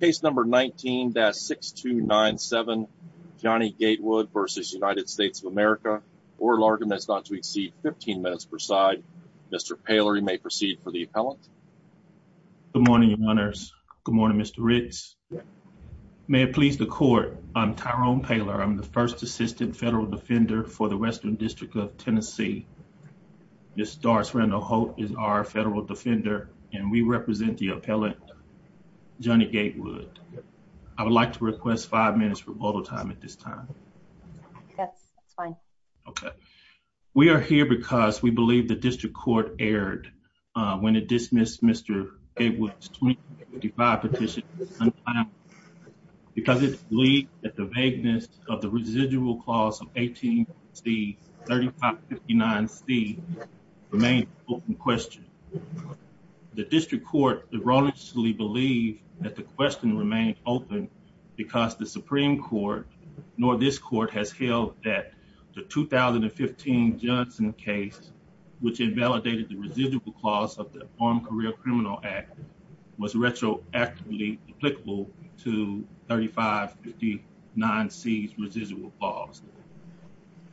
Case number 19-6297 Johnny Gatewood v. United States of America, oral argument is not to exceed 15 minutes per side. Mr. Paler, you may proceed for the appellant. Good morning, your honors. Good morning, Mr. Riggs. May it please the court, I'm Tyrone Paler. I'm the first assistant federal defender for the Western District of Tennessee. Ms. Doris Randall-Holt is our federal defender and we represent the appellant, Johnny Gatewood. I would like to request five minutes for oral time at this time. Yes, that's fine. Okay, we are here because we believe the district court erred when it dismissed Mr. Gatewood's 2555 petition because it believed that the vagueness of the residual clause of 18 C, 3559 C remained open question. The district court erroneously believed that the question remained open because the Supreme Court nor this court has held that the 2015 Johnson case, which invalidated the residual clause of the Armed Career Criminal Act, was retroactively applicable to 3559 C's residual clause.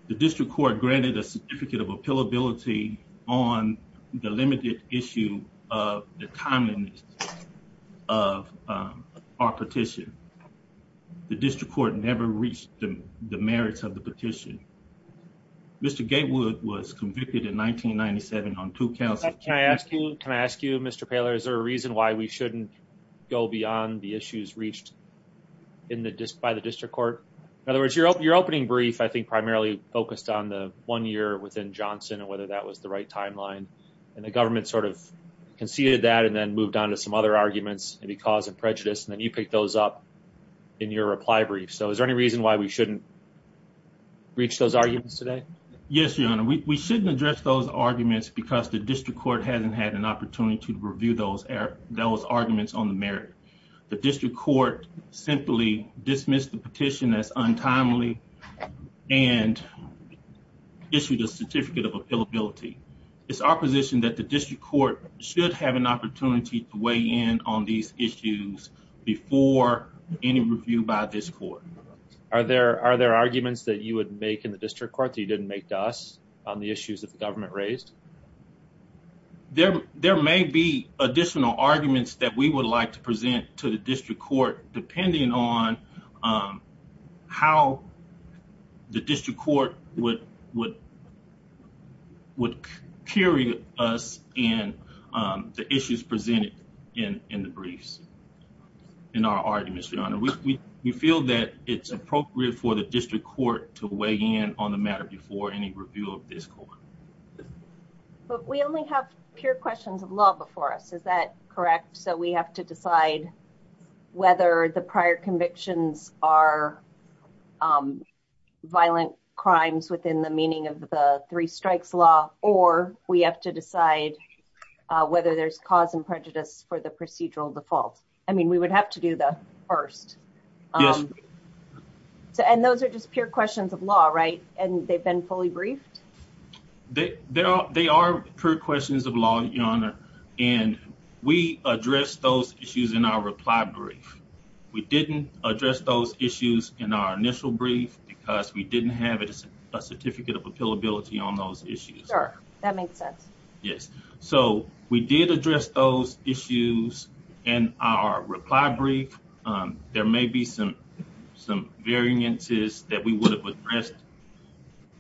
The district court granted a certificate of appealability on the limited issue of the timeliness of our petition. The district court never reached the merits of the petition. Mr. Gatewood was convicted in 1997 on two counts. Can I ask you, Mr. Paler, is there a reason why we shouldn't go beyond the issues reached by the district court? In other words, your opening brief, I think, primarily focused on the one year within Johnson and whether that was the right timeline and the government sort of conceded that and then moved on to some other arguments, maybe cause of prejudice, and then you picked those up in your reply brief. So is there any reason why we shouldn't reach those arguments today? Yes, Your Honor, we shouldn't address those arguments because the district court hasn't had an opportunity to review those those arguments on the merit. The district court simply dismissed the petition as untimely and issued a certificate of appealability. It's our position that the district court should have an opportunity to weigh in on these issues before any review by this court. Are there arguments that you would make in the district court that you didn't make to us on the issues that the government raised? There may be additional arguments that we would like to present to the district court depending on how the district court would carry us in the issues presented in the briefs. In our arguments, Your Honor, we feel that it's appropriate for the district court to weigh in on the matter before any review of this court. But we only have pure questions of law before us, is that correct? So we have to decide whether the prior convictions are violent crimes within the meaning of the three strikes law, or we have to decide whether there's cause and prejudice for the procedural default. I mean, we would have to do that first. And those are just pure questions of law, right? And they've been fully briefed? They are pure questions of law, Your Honor, and we addressed those issues in our reply brief. We didn't address those issues in our initial brief because we didn't have a certificate of appealability on those issues. Sure, that makes sense. Yes. So we did address those issues in our reply brief. There may be some variances that we would address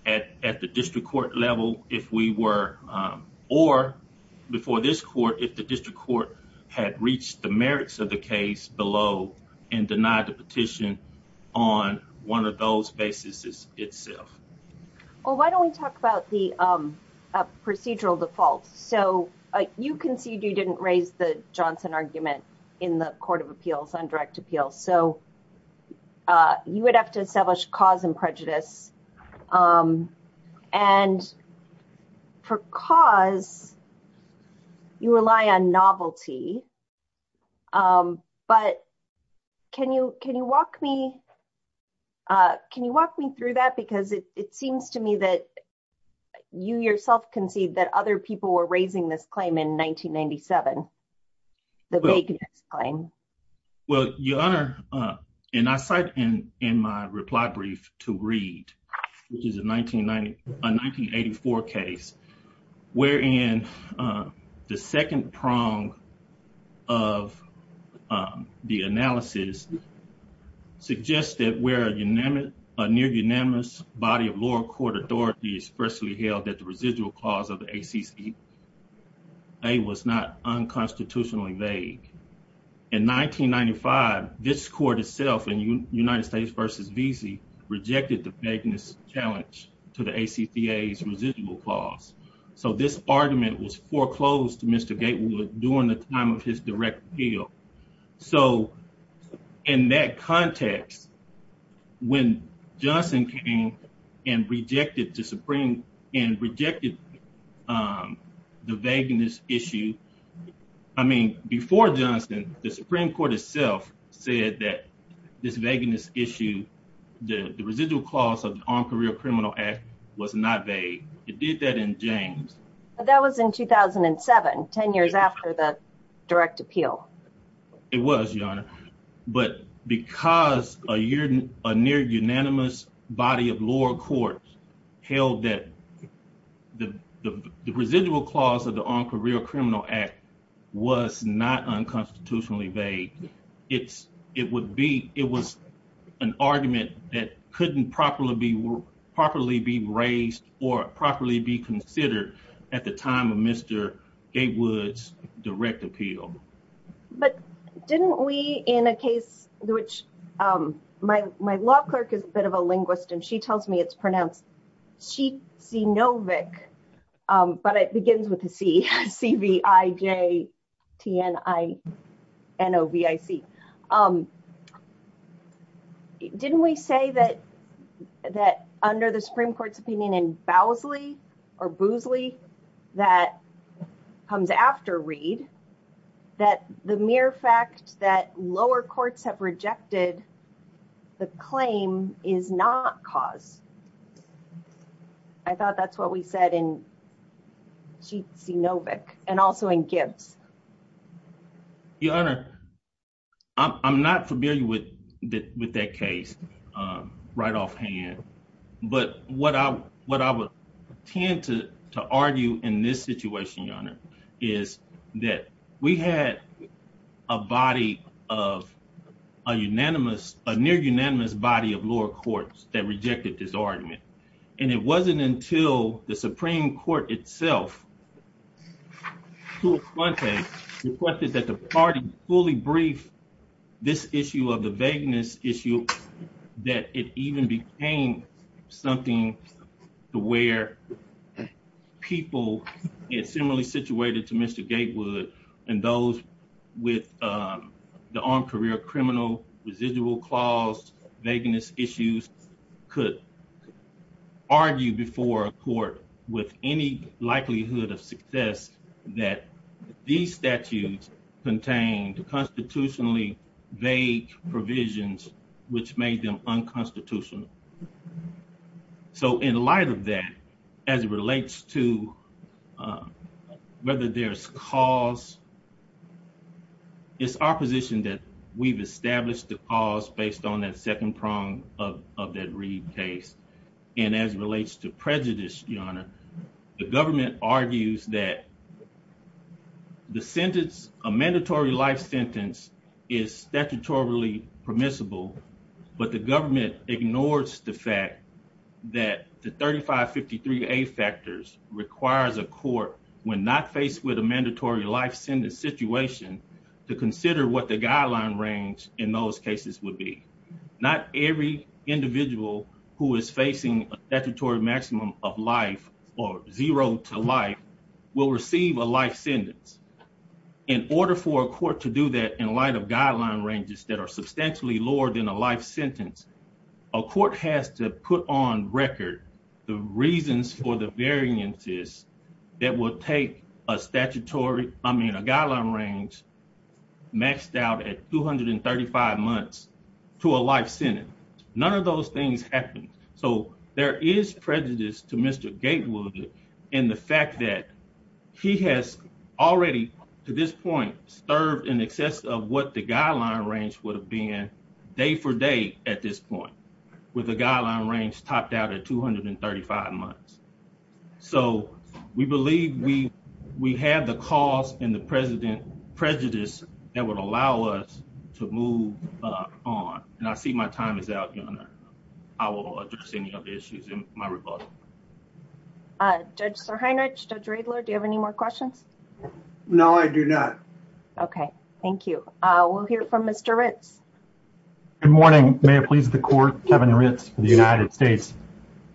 at the district court level if we were, or before this court, if the district court had reached the merits of the case below and denied the petition on one of those basis itself. Well, why don't we talk about the procedural default? So you concede you didn't raise the Johnson argument in the Court of Appeals on direct appeal. So you would have to establish cause and prejudice. And for cause, you rely on novelty. But can you walk me through that? Because it seems to me that you yourself concede that other people were raising this claim in 1997, the vagueness claim. Well, Your Honor, and I cite in my reply brief to read, which is a 1984 case, wherein the second prong of the analysis suggested where a near unanimous body of ACCA was not unconstitutionally vague. In 1995, this court itself in United States versus Vesey rejected the vagueness challenge to the ACCA's residual clause. So this argument was foreclosed to Mr. Gatewood during the time of his direct appeal. So in that context, when Johnson came and rejected the vagueness issue, I mean, before Johnson, the Supreme Court itself said that this vagueness issue, the residual clause of the Armed Career Criminal Act was not vague. It did that in James. That was in 2007, 10 years after the direct appeal. It was, Your Honor. But because a near unanimous body of lower court held that the residual clause of the Armed Career Criminal Act was not unconstitutionally vague, it was an argument that couldn't properly be raised or properly be considered at the time of Gatewood's direct appeal. But didn't we, in a case which my law clerk is a bit of a linguist, and she tells me it's pronounced Sheetsinovic, but it begins with a C, C-V-I-J-T-N-I-N-O-V-I-C. Didn't we say that under the Supreme Court's opinion in Bowsley or Boosley that comes after Reed, that the mere fact that lower courts have rejected the claim is not cause? I thought that's what we said in Sheetsinovic and also in Gibbs. Your Honor, I'm not familiar with that case right off hand, but what I would tend to argue in this situation, Your Honor, is that we had a body of a near unanimous body of lower courts that rejected this argument, and it wasn't until the Supreme Court itself, to a front page, requested that the party fully brief this issue of the vagueness issue that it even became something to where people similarly situated to Mr. Gatewood and those with the on-career criminal residual clause vagueness issues could argue before a court with any likelihood of success that these statutes contained constitutionally vague provisions, which made them unconstitutional. So in light of that, as it relates to whether there's cause, it's our position that we've established the cause based on that second prong of that Reed case, and as it relates to prejudice, Your Honor, the government argues that the sentence, a mandatory life sentence, is statutorily permissible, but the government ignores the fact that the 3553A factors requires a court, when not faced with a mandatory life sentence situation, to consider what the guideline range in those cases would be. Not every individual who is facing a statutory maximum of life, or zero to life, will receive a life sentence. In order for a court to do that in light of guideline ranges that are substantially lower than a life sentence, a court has to put on record the reasons for the variances that will take a guideline range maxed out at 235 months to a life sentence. None of those things happen. So there is prejudice to Mr. Gatewood in the fact that he has already, to this point, served in excess of what the guideline range would have been day for day at this point, with the guideline range topped out at 235 months. So we believe we have the cause and the prejudice that would allow us to move on, and I see my time is out, Your Honor. I will address any other issues in my rebuttal. Judge Sirhanich, Judge Riedler, do you have any more questions? No, I do not. Okay, thank you. We'll hear from Mr. Ritz. Good morning. May it please the Court, Kevin Ritz for the United States.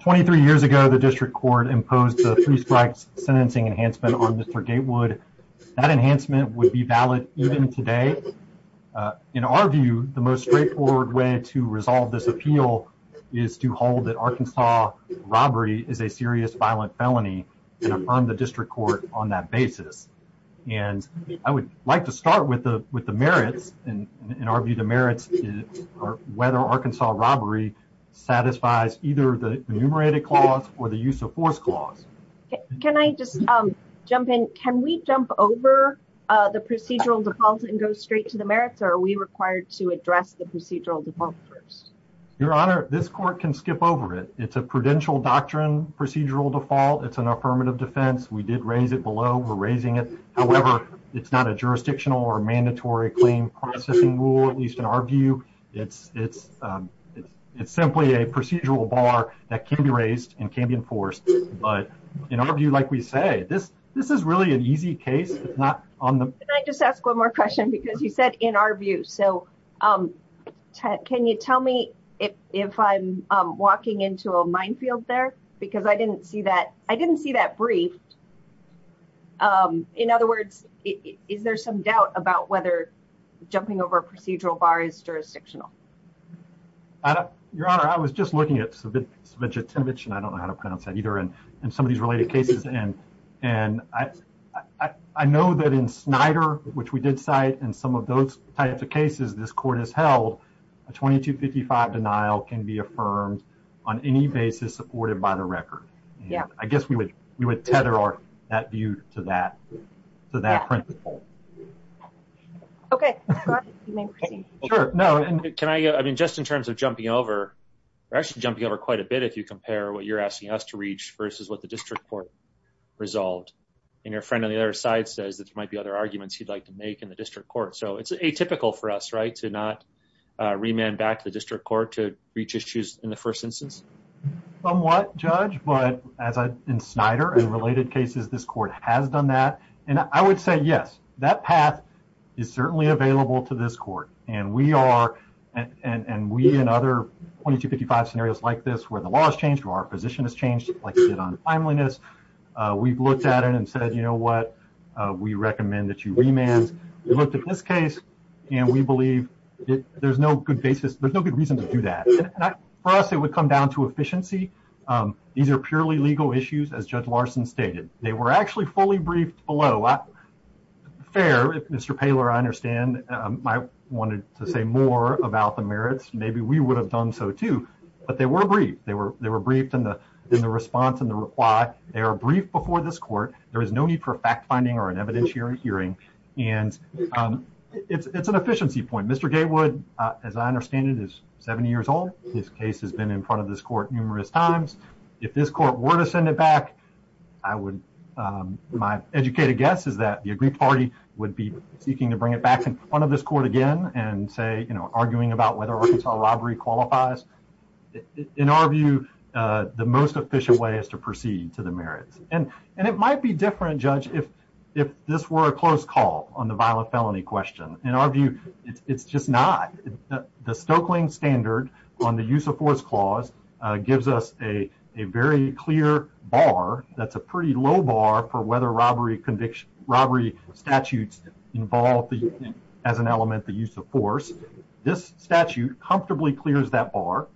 Twenty-three years ago, the District Court imposed the three strikes sentencing enhancement on Mr. Gatewood. That enhancement would be valid even today. In our view, the most straightforward way to resolve this appeal is to hold that Arkansas robbery is a serious violent felony and affirm the District Court on that basis. I would like to start with the merits. In our view, the merits are whether Arkansas robbery satisfies either the enumerated clause or the use of force clause. Can I just jump in? Can we jump over the procedural default and go straight to the merits, or are we required to address the procedural default first? Your Honor, this Court can skip over it. It's a prudential doctrine, procedural default. It's an affirmative defense. We did raise it below. We're raising it. However, it's not a jurisdictional or mandatory claim processing rule, at least in our view. It's simply a procedural bar that can be raised and can be enforced. In our view, like we say, this is really an easy case. Can I just ask one more question? You said, in our view. Can you tell me if I'm walking into a minefield there? I didn't see that briefed. In other words, is there some doubt about whether jumping over a procedural bar is jurisdictional? Your Honor, I was just looking at Savinca that in Snyder, which we did cite, and some of those types of cases this Court has held, a 2255 denial can be affirmed on any basis supported by the record. I guess we would tether that view to that principle. Okay. I mean, just in terms of jumping over, we're actually jumping over quite a bit if you compare what you're asking us to reach versus what the District Court resolved. And your friend on the side says that there might be other arguments he'd like to make in the District Court. So it's atypical for us, right, to not remand back to the District Court to reach issues in the first instance? Somewhat, Judge. But in Snyder and related cases, this Court has done that. And I would say, yes, that path is certainly available to this Court. And we and other 2255 scenarios like this, where the law has changed, where our position has changed, like you said on timeliness, we've looked at it and said, you know what? We recommend that you remand. We looked at this case and we believe there's no good basis. There's no good reason to do that. For us, it would come down to efficiency. These are purely legal issues, as Judge Larson stated. They were actually fully briefed below. Fair, Mr. Paylor, I understand. I wanted to say more about the merits. Maybe we would have done so too. But they were briefed. They were briefed in the response and the reply. They are briefed before this Court. There is no need for fact-finding or an evidentiary hearing. And it's an efficiency point. Mr. Gatewood, as I understand it, is 70 years old. His case has been in front of this Court numerous times. If this Court were to send it back, I would, my educated guess is that the aggrieved party would be seeking to bring it back in front of this Court again and arguing about whether Arkansas robbery qualifies. In our view, the most efficient way is to proceed to the merits. And it might be different, Judge, if this were a close call on the violent felony question. In our view, it's just not. The Stoeckling standard on the use of force clause gives us a very clear bar that's a pretty low bar for whether robbery statutes involve, as an element, the use of force. This statute comfortably clears that bar.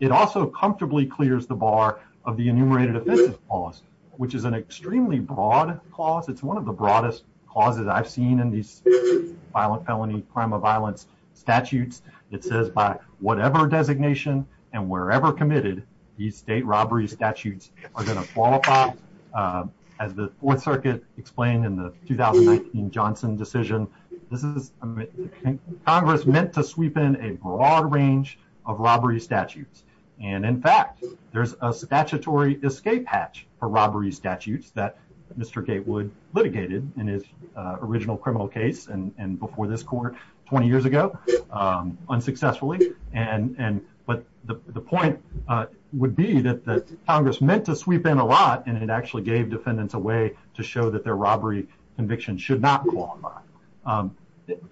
It also comfortably clears the bar of the enumerated offenses clause, which is an extremely broad clause. It's one of the broadest clauses I've seen in these violent felony, crime of violence statutes. It says by whatever designation and wherever committed, these state robbery statutes are going to qualify. As the Fourth Circuit explained in the 2019 Johnson decision, Congress meant to sweep in a broad range of robbery statutes. And in fact, there's a statutory escape hatch for robbery statutes that Mr. Gatewood litigated in his original criminal case and before this Court 20 years ago, unsuccessfully. But the point would be that Congress meant to actually gave defendants a way to show that their robbery conviction should not qualify.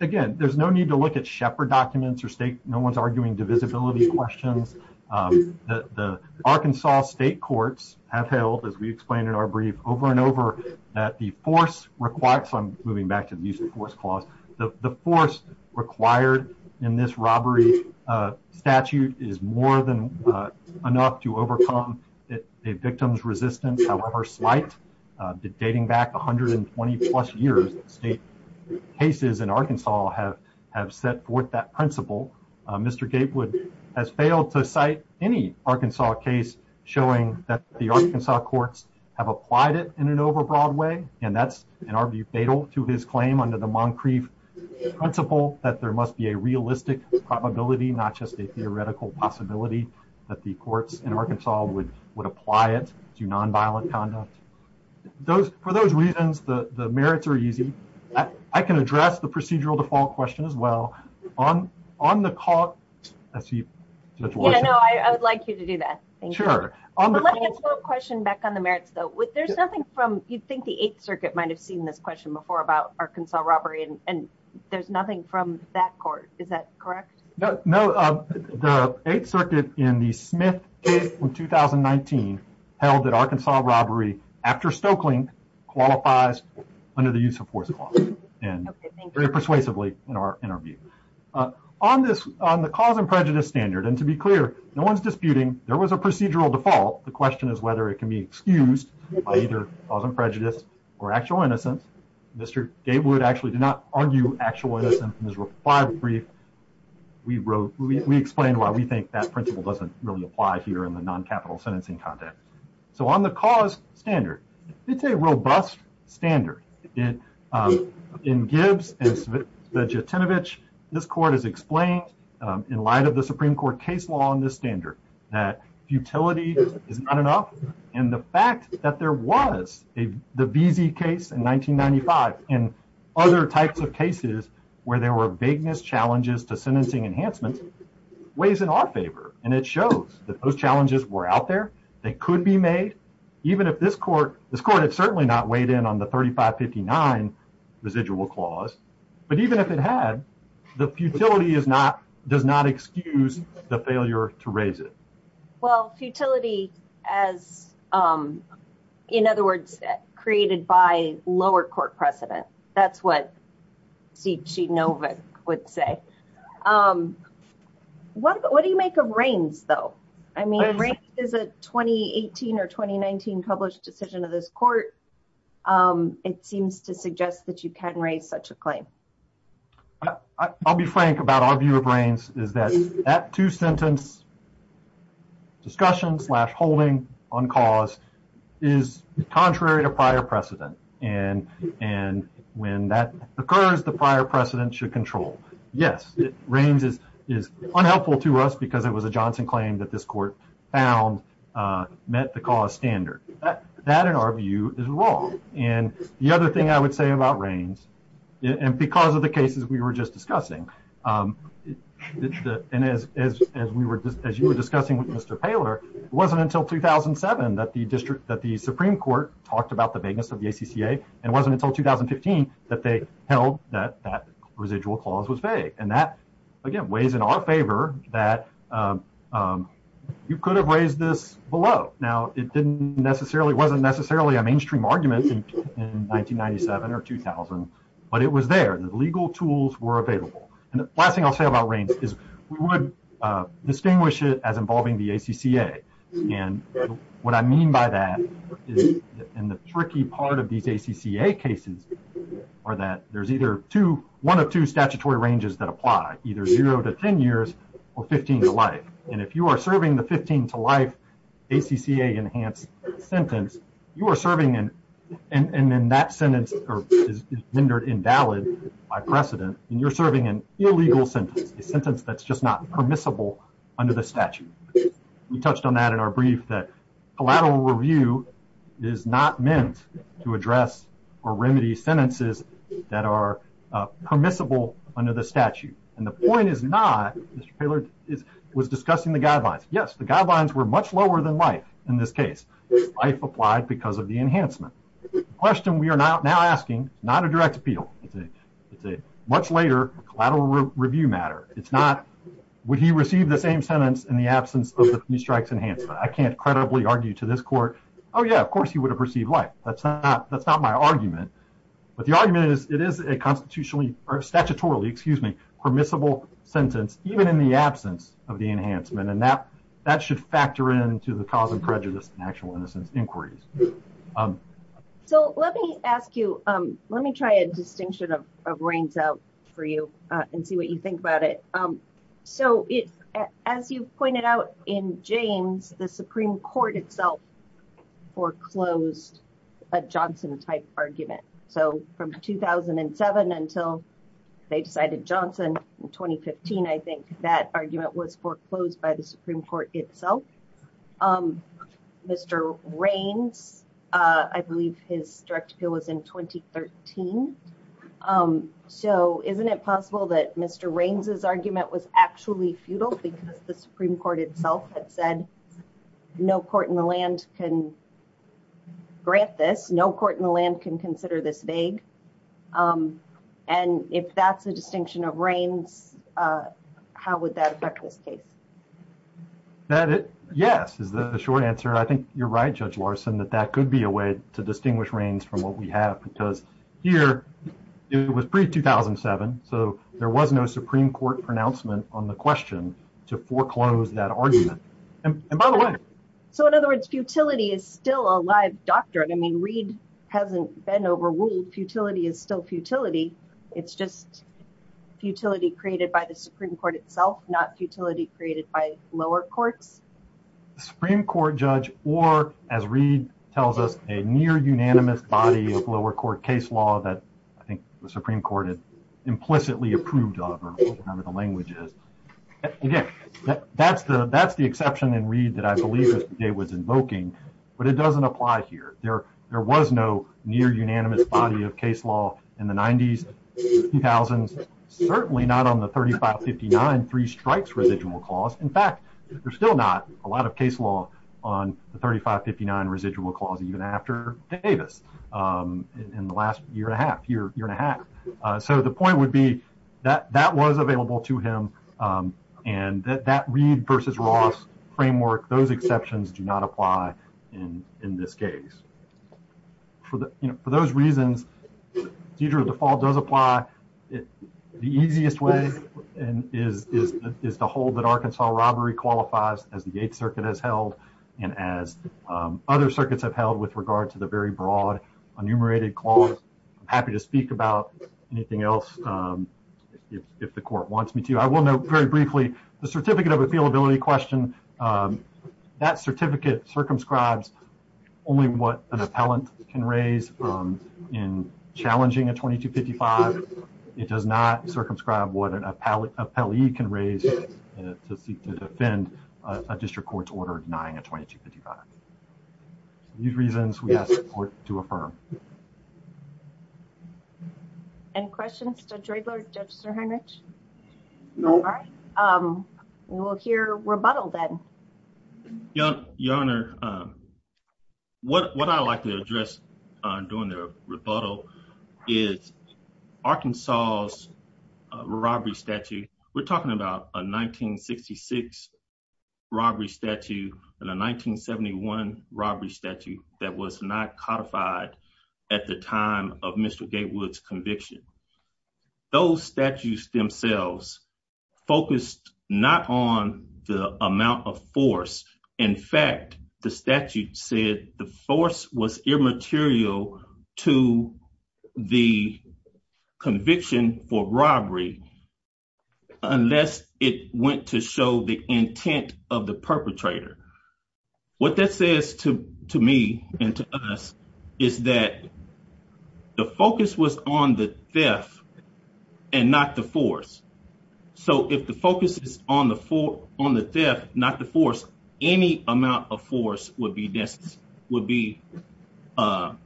Again, there's no need to look at Shepard documents or state. No one's arguing divisibility questions. The Arkansas state courts have held, as we explained in our brief, over and over that the force requires. I'm moving back to the use of force clause. The force required in this slight, dating back 120 plus years, state cases in Arkansas have set forth that principle. Mr. Gatewood has failed to cite any Arkansas case showing that the Arkansas courts have applied it in an overbroad way. And that's, in our view, fatal to his claim under the Moncrief principle that there must be a realistic probability, not just a theoretical possibility, that the courts in Arkansas would apply it to nonviolent conduct. For those reasons, the merits are easy. I can address the procedural default question as well. On the court, I see Judge Watson. Yeah, no, I would like you to do that. Thank you. Sure. But let me ask a question back on the merits, though. There's nothing from, you'd think the Eighth Circuit might have seen this question before about Arkansas robbery, and there's nothing from that court. Is that correct? No, the Eighth Circuit in the Smith case from 2019 held that Arkansas robbery after Stokelynk qualifies under the use of force clause, and very persuasively in our interview. On this, on the cause and prejudice standard, and to be clear, no one's disputing there was a procedural default. The question is whether it can be excused by either cause and prejudice or actual innocence. Mr. Gatewood actually did not argue actual innocence in his reply brief. We explained why we think that principle doesn't really apply here in the non-capital sentencing context. So on the cause standard, it's a robust standard. In Gibbs and Svejotinovic, this court has explained in light of the Supreme Court case law on this standard that futility is not enough, and the fact that there was the Veazey case in 1995 and other types of cases where there were vagueness challenges to sentencing enhancements weighs in our favor, and it shows that those challenges were out there. They could be made, even if this court, this court had certainly not weighed in on the 3559 residual clause, but even if it had, the futility does not excuse the failure to raise it. Well, futility as, in other words, created by lower court precedent, that's what Svejotinovic would say. What do you make of Raines, though? I mean, Raines is a 2018 or 2019 published decision of this court. It seems to suggest that you can raise such a claim. I'll be frank about our view of Raines is that that two-sentence discussion slash holding on cause is contrary to prior precedent, and when that occurs, the prior precedent should control. Yes, Raines is unhelpful to us because it was a Johnson claim that this court found met the cause standard. That, in our view, is wrong, and the other thing I would say about Raines, and because of the cases we were just discussing, and as you were discussing with Mr. Paylor, it wasn't until 2007 that the Supreme Court talked about the vagueness of the ACCA, and it wasn't until 2015 that they held that that residual clause was vague, and that, again, weighs in our favor that you could have raised this below. Now, it wasn't necessarily a mainstream argument in 1997 or 2000, but it was there. The legal tools were available, and the last thing I'll say about Raines is we would distinguish it as involving the ACCA, and what I mean by that is in the tricky part of these ACCA cases are that there's either two, one of two statutory ranges that apply, either zero to 10 years or 15 to life, and if you are serving the 15 to life ACCA-enhanced sentence, you are serving an, and then that sentence is rendered invalid by precedent, and you're serving an illegal sentence, a sentence that's just not permissible under the statute. We touched on that in our brief that collateral review is not meant to address or remedy sentences that are permissible under the statute, and the guidelines were much lower than life in this case. Life applied because of the enhancement. The question we are now asking, not a direct appeal, it's a much later collateral review matter. It's not would he receive the same sentence in the absence of the police strikes enhancement. I can't credibly argue to this court, oh, yeah, of course he would have received life. That's not my argument, but the argument is it is a constitutionally, or statutorily, excuse me, permissible sentence, even in the absence of the enhancement, and that should factor into the cause of prejudice and actual innocence inquiries. So, let me ask you, let me try a distinction of reigns out for you and see what you think about it. So, as you pointed out in James, the Supreme Court itself foreclosed a Johnson type argument. So, from 2007 until they decided Johnson in 2015, I think that argument was foreclosed by the Supreme Court itself. Mr. Reigns, I believe his direct appeal was in 2013. So, isn't it possible that Mr. Reigns' argument was actually futile because the Supreme Court itself had said no court in the land can grant this, no court in the land can consider this vague, and if that's a distinction of reigns, how would that affect this case? Yes, is the short answer. I think you're right, Judge Larson, that that could be a way to distinguish reigns from what we have because here it was pre-2007, so there was no Supreme Court pronouncement on the question to foreclose that argument, and by the way. So, in other words, futility is still a live doctrine. I mean, Reed hasn't been overruled. Futility is still futility. It's just futility created by the Supreme Court itself, not futility created by lower courts. The Supreme Court, Judge, or as Reed tells us, a near approved of or whatever the language is. Again, that's the exception in Reed that I believe Mr. Day was invoking, but it doesn't apply here. There was no near unanimous body of case law in the 90s and 2000s, certainly not on the 3559 three strikes residual clause. In fact, there's still not a lot of case law on the 3559 residual clause even after Davis in the last year and a half. So, the point would be that that was available to him and that Reed versus Ross framework, those exceptions do not apply in this case. For those reasons, seizure of default does apply. The easiest way is to hold that Arkansas robbery qualifies as the Eighth Circuit has held and as other circuits have held with regard to the very broad enumerated clause. I'm happy to speak about anything else if the court wants me to. I will note very briefly, the certificate of appealability question, that certificate circumscribes only what an appellant can raise in challenging a 2255. It does not circumscribe what an appellee can raise to seek to defend a district court's order denying a 2255. These reasons we ask the court to affirm. Any questions to Dregler, Justice Heinrich? No. All right, we'll hear rebuttal then. Your Honor, what I'd like to address during the rebuttal is Arkansas's robbery statute. We're talking about a 1966 robbery statute and a 1971 robbery statute that was not codified at the time of Mr. Gatewood's conviction. Those statutes themselves focused not on the amount of force. In fact, the statute said the force was immaterial to the conviction for robbery unless it went to show the intent of the perpetrator. What that says to me and to us is that the focus was on the theft and not the force. So, if the focus is on the theft, not the force, any amount of force would be sustained a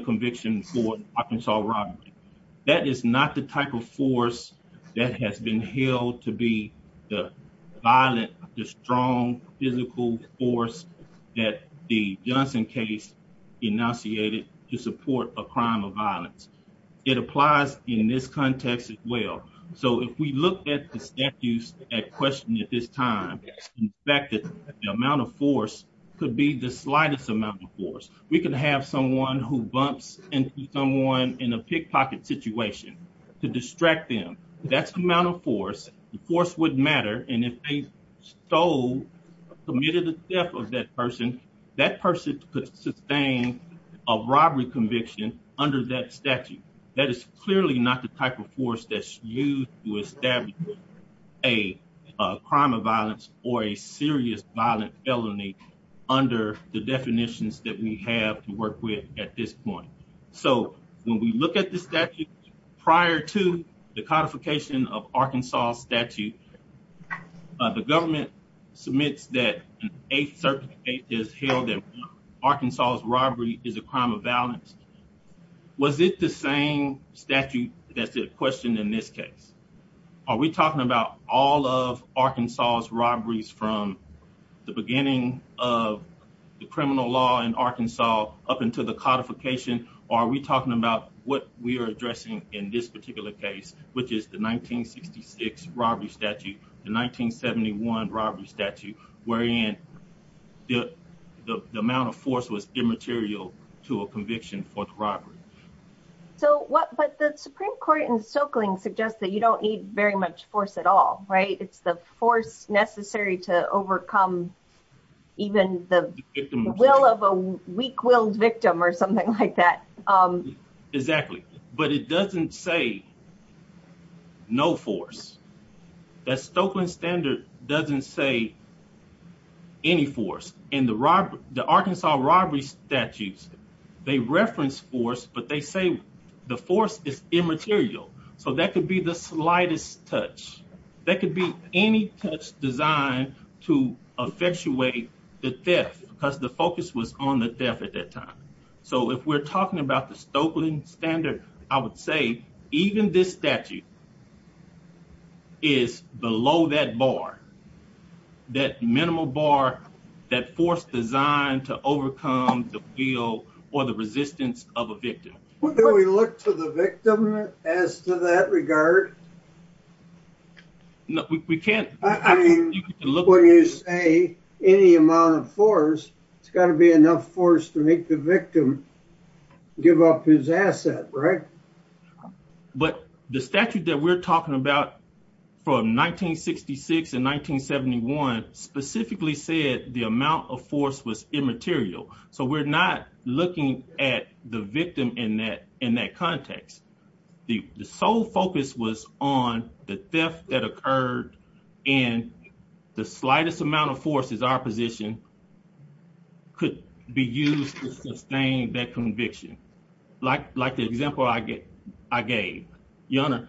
conviction for Arkansas robbery. That is not the type of force that has been held to be violent, the strong physical force that the Johnson case enunciated to support a crime of violence. It applies in this context as well. So, if we look at the statutes at question at this time, in fact, the amount of force could be the slightest amount of force. We could have someone who bumps into someone in a pickpocket situation to distract them. That's the amount of force. The force wouldn't matter, and if they committed the theft of that person, that person could sustain a robbery conviction under that statute. That is clearly not the type of force that's used to establish a crime of violence or a serious violent felony under the definitions that we have to work with at this point. So, when we look at the statute prior to the codification of Arkansas statute, the government submits that a certain state has held that Arkansas's robbery is a crime of violence. Was it the same statute that's at question in this case? Are we talking about all of Arkansas's robberies from the beginning of the criminal law in Arkansas up until the codification, or are we talking about what we are addressing in this particular case, which is the 1966 robbery statute, the 1971 robbery statute, wherein the amount of force was immaterial to a conviction for the robbery? So, what, but the Supreme Court in Stokeling suggests that you don't need very much force at all, right? It's the force necessary to overcome even the will of a weak-willed victim or something like that. Exactly, but it doesn't say no force. That Stokeling standard doesn't say any force. In the Arkansas robbery statutes, they reference force, but they say the force is immaterial. So, that could be the slightest touch. That could be any touch designed to effectuate the death, because the focus was on the death at that time. So, if we're talking about the Stokeling standard, I would say even this statute is below that bar, that minimal bar, that force designed to overcome the will or the resistance of a victim. Do we look to the victim as to that regard? No, we can't. I mean, when you say any amount of force, it's got to be enough force to make the statute that we're talking about from 1966 and 1971 specifically said the amount of force was immaterial. So, we're not looking at the victim in that context. The sole focus was on the theft that occurred and the slightest amount of force is our position could be used to sustain that Your Honor,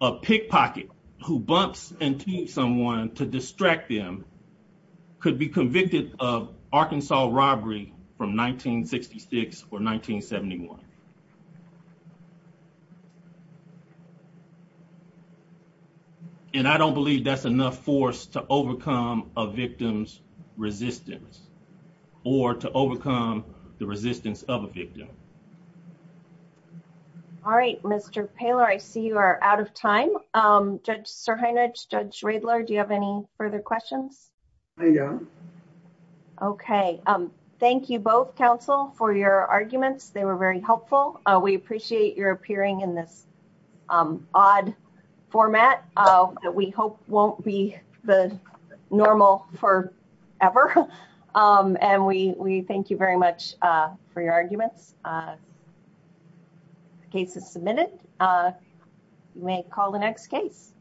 a pickpocket who bumps into someone to distract them could be convicted of Arkansas robbery from 1966 or 1971. And I don't believe that's enough force to overcome a victim's resistance or to overcome the resistance of a victim. All right, Mr. Poehler, I see you are out of time. Judge Sirhanich, Judge Schradler, do you have any further questions? I don't. Okay. Thank you both, counsel, for your arguments. They were very helpful. We appreciate your appearing in this odd format that we hope won't be the normal forever. And we thank you very much for your arguments. The case is submitted. You may call the next case.